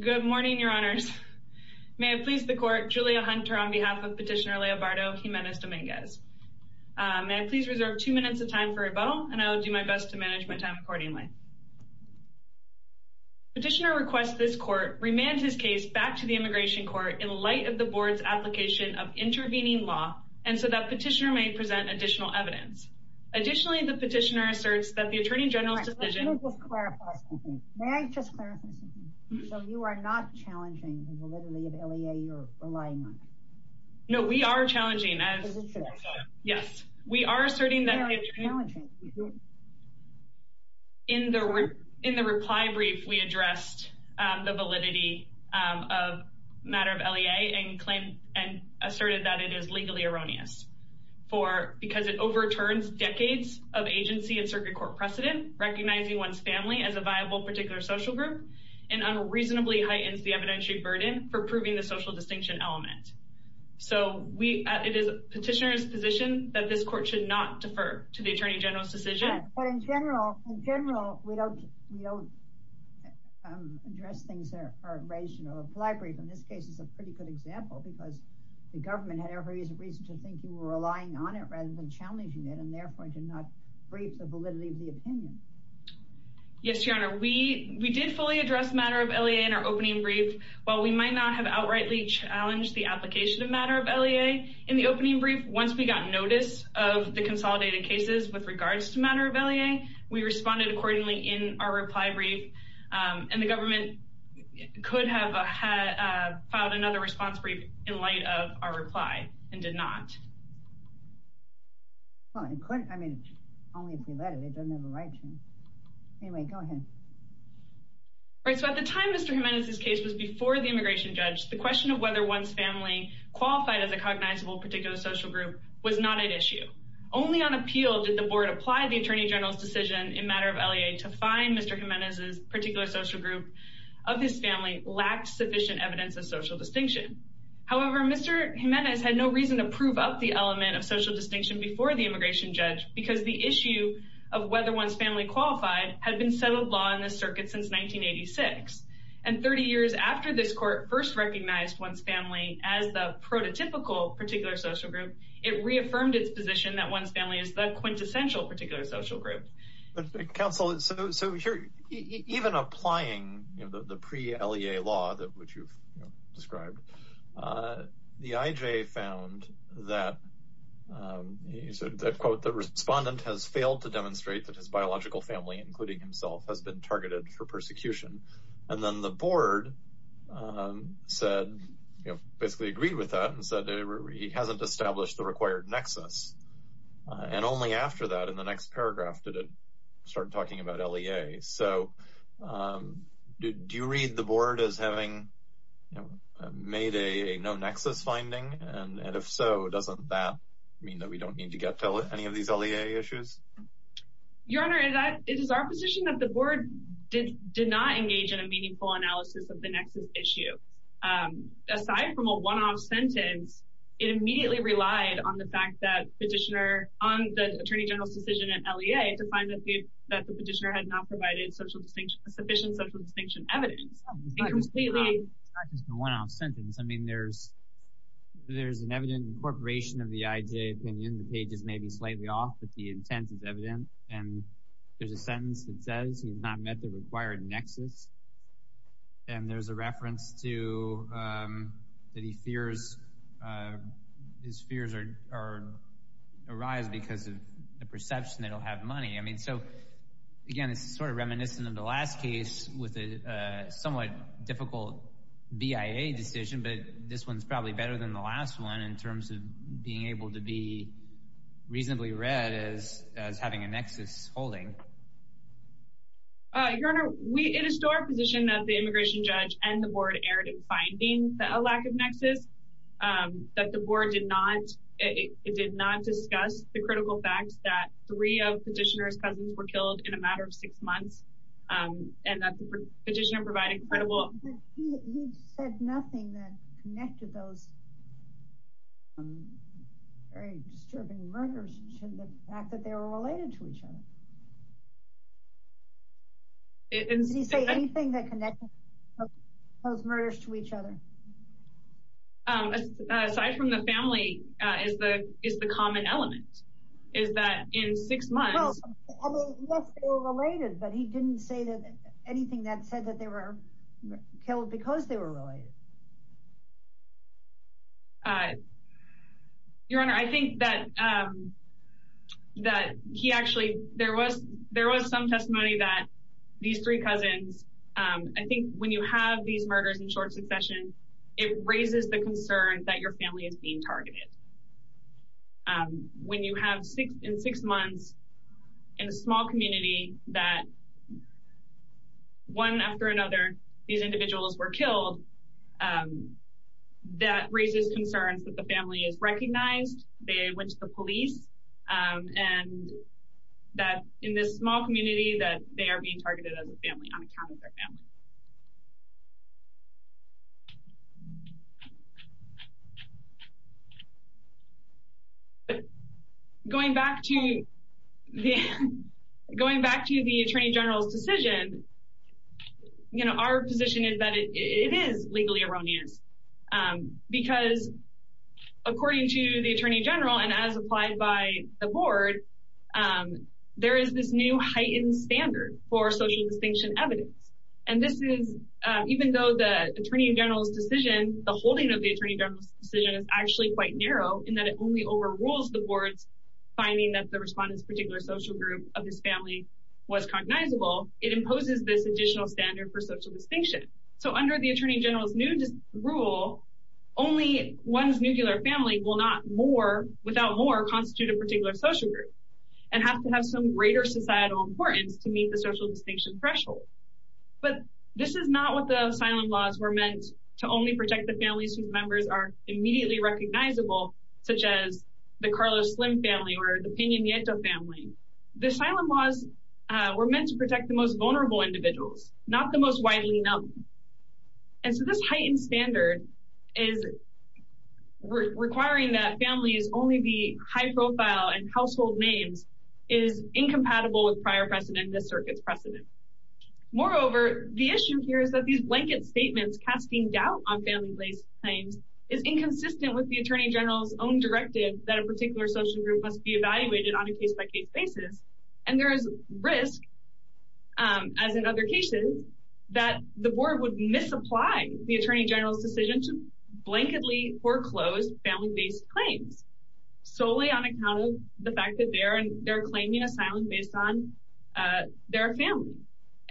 Good morning, your honors. May it please the court, Julia Hunter on behalf of petitioner Leobardo Jimenez-Dominguez. May I please reserve two minutes of time for rebuttal and I will do my best to manage my time accordingly. Petitioner requests this court remand his case back to the immigration court in light of the board's application of intervening law and so that petitioner may present additional evidence. Additionally, the petitioner asserts that the attorney general's decision... May I just clarify something? So you are not challenging the validity of LEA you're relying on? No, we are challenging. Yes, we are asserting that... In the reply brief, we addressed the validity of matter of LEA and claimed and asserted that it is legally erroneous because it overturns decades of agency and circuit court precedent recognizing one's family as a viable particular social group and unreasonably heightens the evidentiary burden for proving the social distinction element. So it is petitioner's position that this court should not defer to the attorney general's decision. But in general, in general, we don't address things that are raised in a reply brief and this case is a pretty good example because the government had every reason to think you were relying on it rather than challenging it and therefore did not brief the validity of the opinion. Yes, Your Honor, we we did fully address matter of LEA in our opening brief. While we might not have outrightly challenged the application of matter of LEA in the opening brief, once we got notice of the consolidated cases with regards to matter of LEA, we responded accordingly in our reply brief and the government could have filed another response brief in light of our reply and did not. Well, it couldn't. I mean, only if we let it. It doesn't have a right to. Anyway, go ahead. Right, so at the time Mr. Jimenez's case was before the immigration judge, the question of whether one's family qualified as a cognizable particular social group was not at issue. Only on appeal did the board apply the attorney general's decision in matter of LEA to find Mr. Jimenez's particular social group of his family lacked sufficient evidence of social distinction. However, Mr. Jimenez had no reason to prove up the element of social distinction before the immigration judge because the issue of whether one's family qualified had been settled law in the circuit since 1986 and 30 years after this court first recognized one's family as the prototypical particular social group, it reaffirmed its position that one's family is the quintessential particular social group. But counsel, so even applying the pre-LEA law that which you've described, the IJ found that he said that quote, the respondent has failed to demonstrate that his biological family, including himself, has been targeted for persecution. And then the board said, you know, basically agreed with that and said he hasn't established the required nexus. And only after that, in the next paragraph, did it start talking about LEA. So do you read the no-nexus finding? And if so, doesn't that mean that we don't need to get to any of these LEA issues? Your Honor, it is our position that the board did not engage in a meaningful analysis of the nexus issue. Aside from a one-off sentence, it immediately relied on the fact that petitioner on the attorney general's decision in LEA to find that the petitioner had not provided sufficient social distinction evidence. I mean, there's an evident incorporation of the IJ opinion, the page is maybe slightly off, but the intent is evident. And there's a sentence that says he has not met the required nexus. And there's a reference to the fears, his fears arise because of the perception that he'll have money. I mean, so again, it's sort of reminiscent of the last case with a somewhat difficult BIA decision, but this one's probably better than the last one in terms of being able to be reasonably read as having a nexus holding. Your Honor, it is still our position that the immigration judge and the board erred in finding a lack of nexus, that the board did not, it did not discuss the critical facts that three of petitioner's cousins were killed in a matter of six months, and that the petitioner provided credible... He said nothing that connected those very disturbing murders to the fact that they were related to each other. Did he say anything that connected those murders to each other? Aside from the family is the common element, is that in six months... Well, I mean, yes, they were related, but he didn't say anything that said that they were killed because they were related. Your Honor, I think that he actually, there was some testimony that these three cousins, I think when you have these murders in short succession, it raises the concern that your family is being targeted. When you have in six months in a small community that one after another, these individuals were killed, that raises concerns that the family is recognized, they went to the police, and that in this small community that they are being targeted as a family on account of their family. Going back to the Attorney General's decision, our position is that it is legally erroneous because according to the Attorney General, and as applied by the board, there is this new heightened standard for social distinction evidence. Even though the Attorney General's decision, the holding of the Attorney General's decision is actually quite narrow in that it only overrules the board's finding that the respondent's particular social group of his family was cognizable, it imposes this additional standard for social distinction. Under the Attorney General's new rule, only one's nuclear family will not, without more, constitute a particular social group and have to have some greater societal importance to meet the social distinction threshold. But this is not what the asylum laws were meant to only protect the families whose members are immediately recognizable, such as the Carlos Slim family or the Pena Nieto family. The asylum laws were meant to protect the most vulnerable individuals, not the most widely known. And so this heightened standard is requiring that families only be high-profile and household names is incompatible with prior precedent in this circuit's precedent. Moreover, the issue here is that these blanket statements casting doubt on family-based claims is inconsistent with the Attorney General's own directive that a particular social group must be evaluated on a case-by-case basis, and there is risk, as in other cases, that the board would misapply the Attorney General's blanketly foreclosed family-based claims solely on account of the fact that they are claiming asylum based on their family.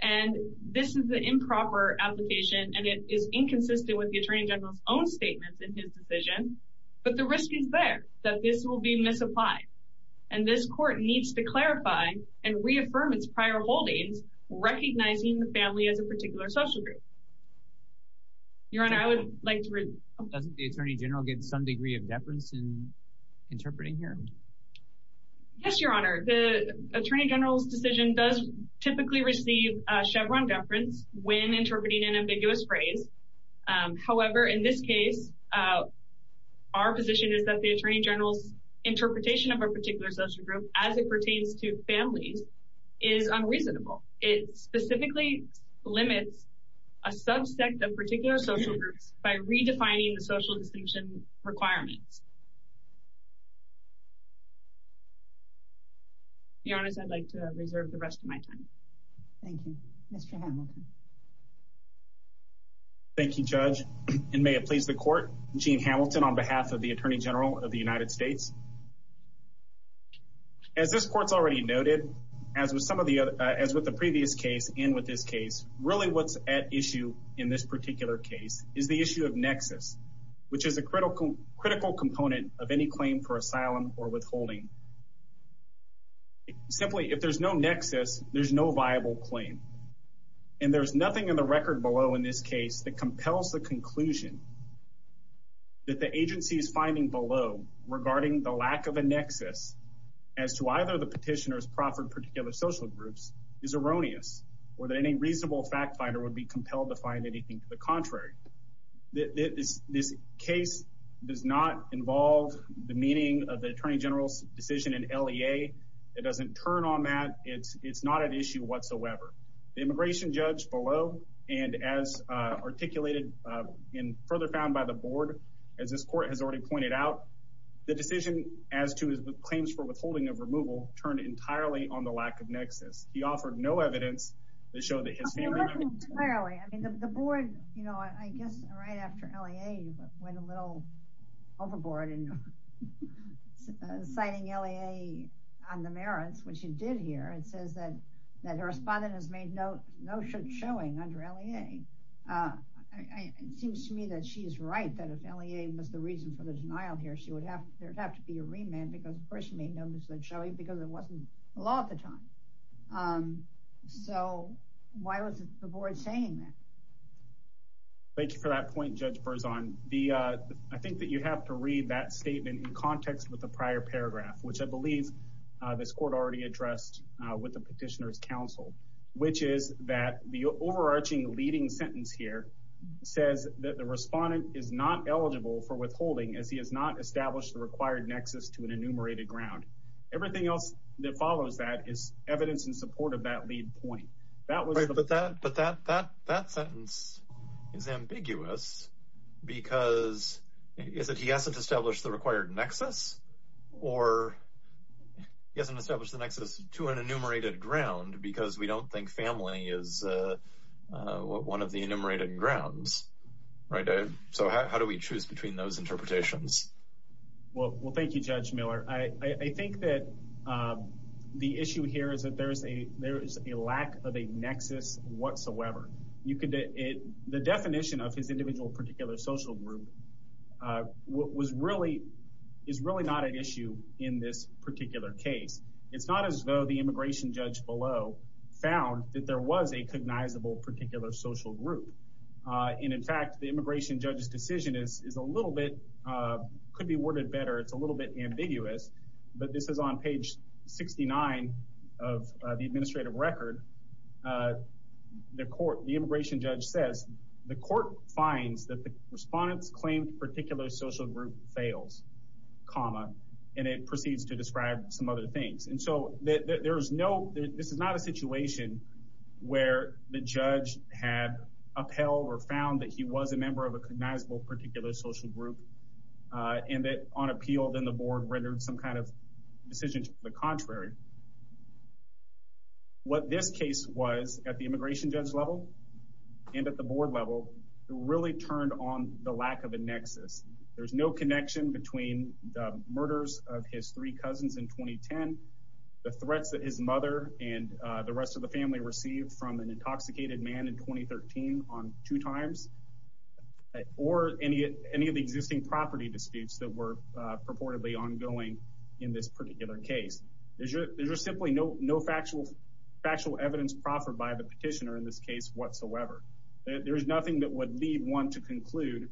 And this is an improper application, and it is inconsistent with the Attorney General's own statements in his decision, but the risk is there, that this will be misapplied. And this court needs to clarify and reaffirm its prior holdings, recognizing the particular social group. Your Honor, I would like to... Doesn't the Attorney General get some degree of deference in interpreting here? Yes, Your Honor. The Attorney General's decision does typically receive a Chevron deference when interpreting an ambiguous phrase. However, in this case, our position is that the Attorney General's interpretation of a particular social group as it pertains to families is unreasonable. It specifically limits a subsect of particular social groups by redefining the social distinction requirements. Your Honor, I'd like to reserve the rest of my time. Thank you. Mr. Hamilton. Thank you, Judge. And may it please the Court, Gene Hamilton on behalf of the Attorney General of the United States. As this Court's already noted, as with the previous case and with this case, really what's at issue in this particular case is the issue of nexus, which is a critical component of any claim for asylum or withholding. Simply, if there's no nexus, there's no viable claim. And there's nothing in the record below in this case that compels the conclusion that the agency's finding below regarding the lack of a nexus as to either the petitioner's proffered particular social groups is erroneous or that any reasonable fact finder would be compelled to find anything to the contrary. This case does not involve the meaning of the Attorney General's decision in LEA. It doesn't turn on that. It's not an issue whatsoever. The immigration judge below, and as articulated and further found by the Board, as this Court has already pointed out, the decision as to his claims for withholding of removal turned entirely on the lack of nexus. He offered no evidence to show that his family... It wasn't entirely. I mean, the Board, you know, I guess right after LEA went a little overboard in citing LEA on the merits, which it did here. It says that her respondent has made no showing under LEA. It seems to me that she is right, that if LEA was the reason for the denial here, there would have to be a remand because the person made no showing because it wasn't the law at the time. So why was the Board saying that? Thank you for that point, Judge Berzon. I think that you have to read that statement in context with the prior paragraph, which I believe this Court already addressed with the Petitioner's Counsel, which is that the overarching leading sentence here says that the respondent is not eligible for withholding as he has not established the required nexus to an enumerated ground. Everything else that follows that is evidence in support of that lead point. But that sentence is ambiguous because he hasn't established the required nexus or he hasn't established the nexus to an enumerated ground because we don't think family is one of the enumerated grounds, right? So how do we choose between those interpretations? Well, thank you, Judge Miller. I think that the issue here is that there is a lack of a nexus whatsoever. The definition of his individual particular social group is really not an issue in this particular case. It's not as though the immigration judge below found that there was a cognizable particular social group. And in fact, the immigration judge's decision is a little bit, could be worded better, it's a little bit ambiguous, but this is on page 69 of the administrative record. The immigration judge says, the court finds that the respondent's claimed particular social group fails, comma, and it proceeds to describe some other things. And so this is not a situation where the judge had upheld or found that he was a member of a cognizable particular social group and that on appeal, then the board rendered some kind of decision to the contrary. What this case was at the immigration judge level and at the board level really turned on the lack of a nexus. There's no connection between the murders of his three cousins in 2010, the threats that his mother and the rest of the family received from an intoxicated man in 2013 on two times, or any of the existing property disputes that were purportedly ongoing in this particular case. There's just simply no factual evidence proffered by the petitioner in this case whatsoever. There's nothing that would lead one to conclude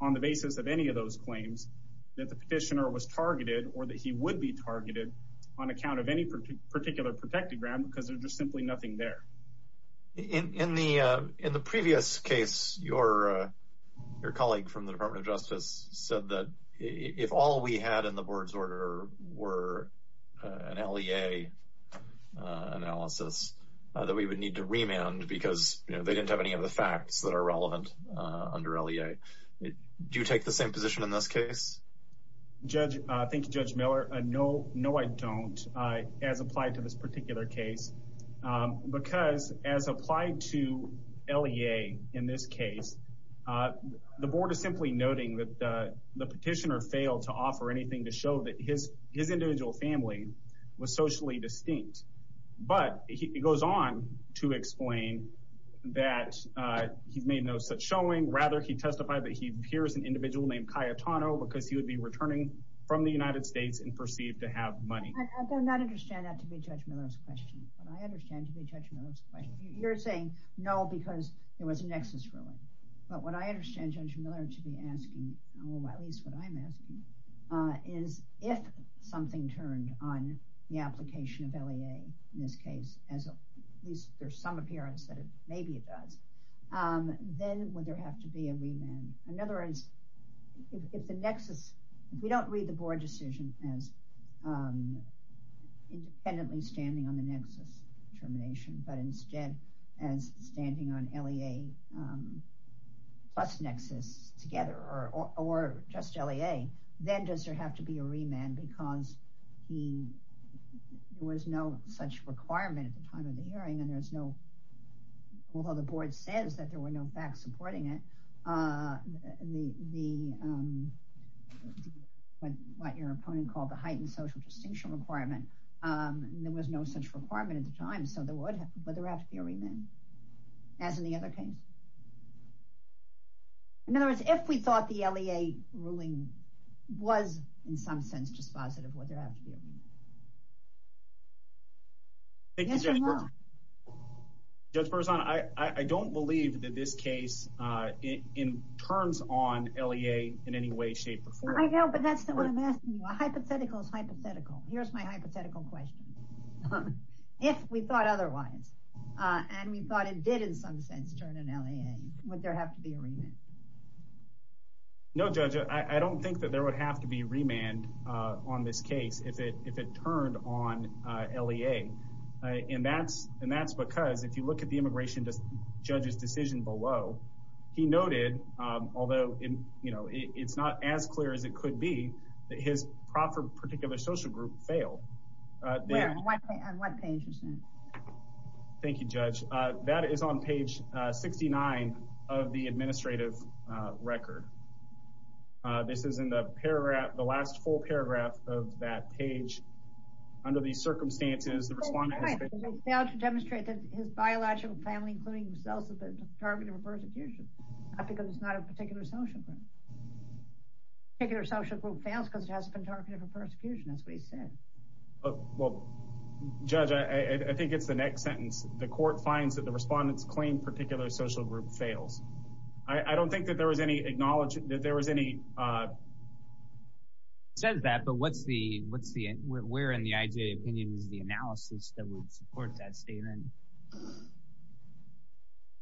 on the basis of any of those claims that the petitioner was targeted or that he would be targeted on account of any particular protected ground because there's just simply nothing there. In the previous case, your colleague from the Department of Justice said that if all we had in the board's order were an LEA analysis, that we would need to remand because they didn't have any of the facts that are relevant under LEA. Do you take the same position in this case? Thank you, Judge Miller. No, I don't as applied to this particular case because as applied to LEA in this case, the board is simply noting that the petitioner failed to offer anything to show that his individual family was socially distinct. But he goes on to explain that he's made no such showing. Rather, he testified that he hears an individual named Cayetano because he would be returning from the United States and perceived to have money. I do not understand that to be Judge Miller's question, but I understand to be Judge Miller's question. You're saying, no, because there was a nexus ruling. But what I understand Judge Miller to be asking, or at least what I'm asking, is if something turned on the application of LEA in this case, as at least there's some appearance that maybe it does, then would there have to be a remand? In other words, if the nexus, we don't read the board decision as independently standing on the nexus termination, but instead as standing on LEA plus nexus together or just LEA, then does there have to be a remand because there was no such requirement at the time of the hearing and although the board says that there were no facts supporting it, what your opponent called the heightened social distinction requirement, there was no such requirement at the time, so would there have to be a remand as in the other case? In other words, if we thought the LEA ruling was in some sense just positive, would there have to be a remand? Thank you, Judge Burzon. Judge Burzon, I don't believe that this case turns on LEA in any way, shape, or form. I know, but that's what I'm asking you. A hypothetical is hypothetical. Here's my hypothetical question. If we thought otherwise, and we thought it did in some sense turn on LEA, would there have to be a remand? No, Judge. I don't think that there would have to be remand on this case if it turned on LEA, and that's because if you look at the immigration judge's decision below, he noted, although it's not as clear as it could be, that his proper 69 of the administrative record. This is in the last full paragraph of that page. Under these circumstances, the respondent has failed to demonstrate that his biological family, including himself, has been targeted for persecution, not because it's not a particular social group. A particular social group fails because it hasn't been targeted for persecution. That's what he said. Well, Judge, I think it's the next sentence. The court finds that the social group fails. I don't think that there was any acknowledgment that there was any... He says that, but where in the IJA opinion is the analysis that would support that statement?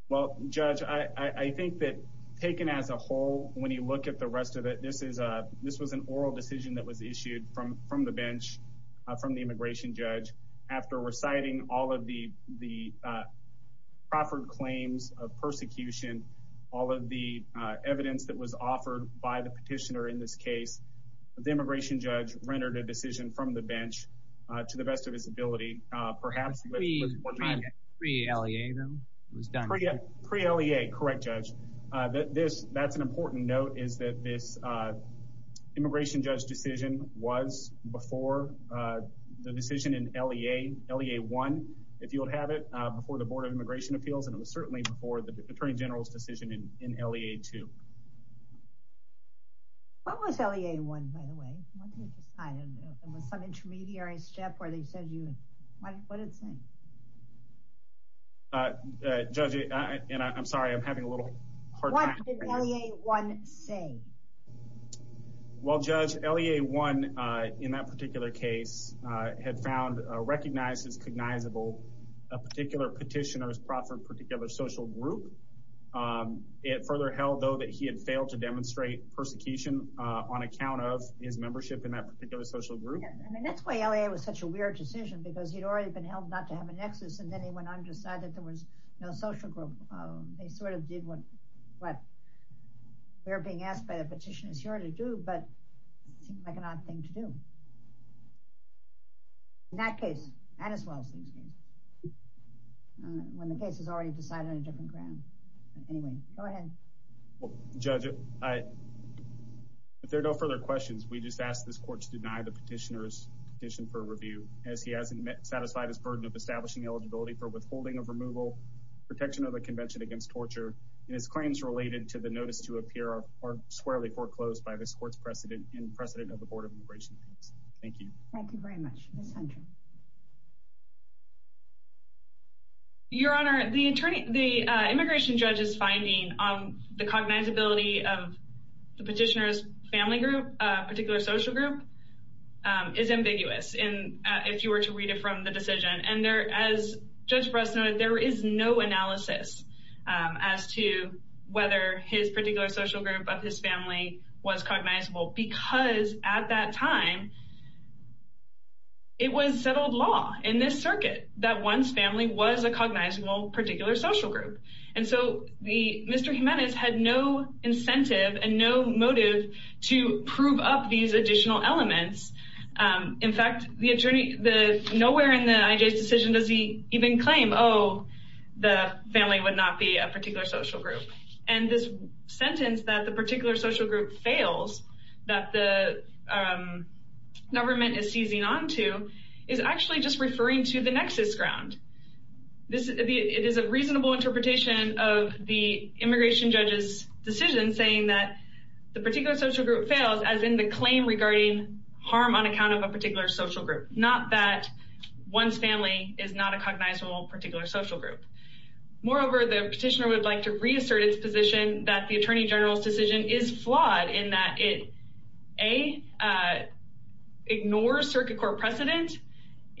Well, Judge, I think that taken as a whole, when you look at the rest of it, this was an oral decision that was issued from the bench, from the immigration judge, after reciting all of the proffered claims of persecution, all of the evidence that was offered by the petitioner in this case, the immigration judge rendered a decision from the bench to the best of his ability. Pre-LEA, though? Pre-LEA, correct, Judge. That's an important note, is that this would have it before the Board of Immigration Appeals, and it was certainly before the Attorney General's decision in LEA 2. What was LEA 1, by the way? It was some intermediary step where they said you... What did it say? Judge, and I'm sorry, I'm having a little hard time... What did LEA 1 say? Well, Judge, LEA 1, in that particular case, had found, recognized as cognizable, a particular petitioner's proffered particular social group. It further held, though, that he had failed to demonstrate persecution on account of his membership in that particular social group. And that's why LEA was such a weird decision, because he'd already been held not to have a nexus, and then he went on to decide that there was no social group. They sort of did what we were being asked by the petitioner's jury to do, but it seemed like an odd thing to do. In that case, as well as these cases, when the case is already decided on a different ground. Anyway, go ahead. Judge, if there are no further questions, we just ask this Court to deny the petitioner's petition for review, as he hasn't satisfied his burden of establishing eligibility for notice to appear or squarely foreclosed by this Court's precedent and precedent of the Board of Immigration Appeals. Thank you. Thank you very much. Ms. Hunter. Your Honor, the immigration judge's finding on the cognizability of the petitioner's family group, particular social group, is ambiguous, if you were to read it from the decision. And there, as Judge Bress noted, there is no analysis as to whether his particular social group of his family was cognizable, because at that time, it was settled law in this circuit that one's family was a cognizable particular social group. And so Mr. Jimenez had no incentive and no motive to prove up these additional elements. In fact, nowhere in the IJ's decision does he even claim, oh, the family would not be a particular social group. And this sentence that the particular social group fails, that the government is seizing onto, is actually just referring to the nexus ground. It is a reasonable interpretation of the immigration judge's decision, saying that the particular social group fails as in the claim regarding harm on account of a particular social group. Not that one's family is not a cognizable particular social group. Moreover, the petitioner would like to reassert its position that the Attorney General's decision is flawed in that it, A, ignores circuit court precedent.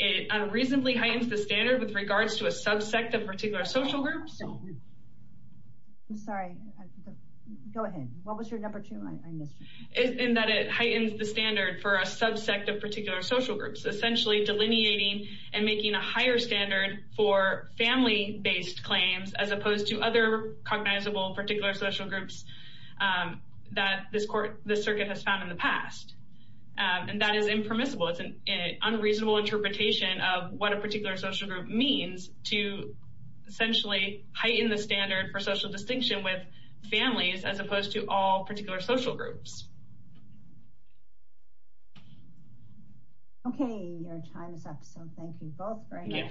It unreasonably heightens the standard with regards to a subsect of particular social groups. I'm sorry. Go ahead. What was your number two? And that it heightens the standard for a subsect of particular social groups, essentially delineating and making a higher standard for family-based claims as opposed to other cognizable particular social groups that this circuit has found in the past. And that is impermissible. It's an unreasonable interpretation of what a particular social group means to essentially heighten the standard for social distinction with families as opposed to all particular social groups. Okay. Your time is up. So thank you both very much.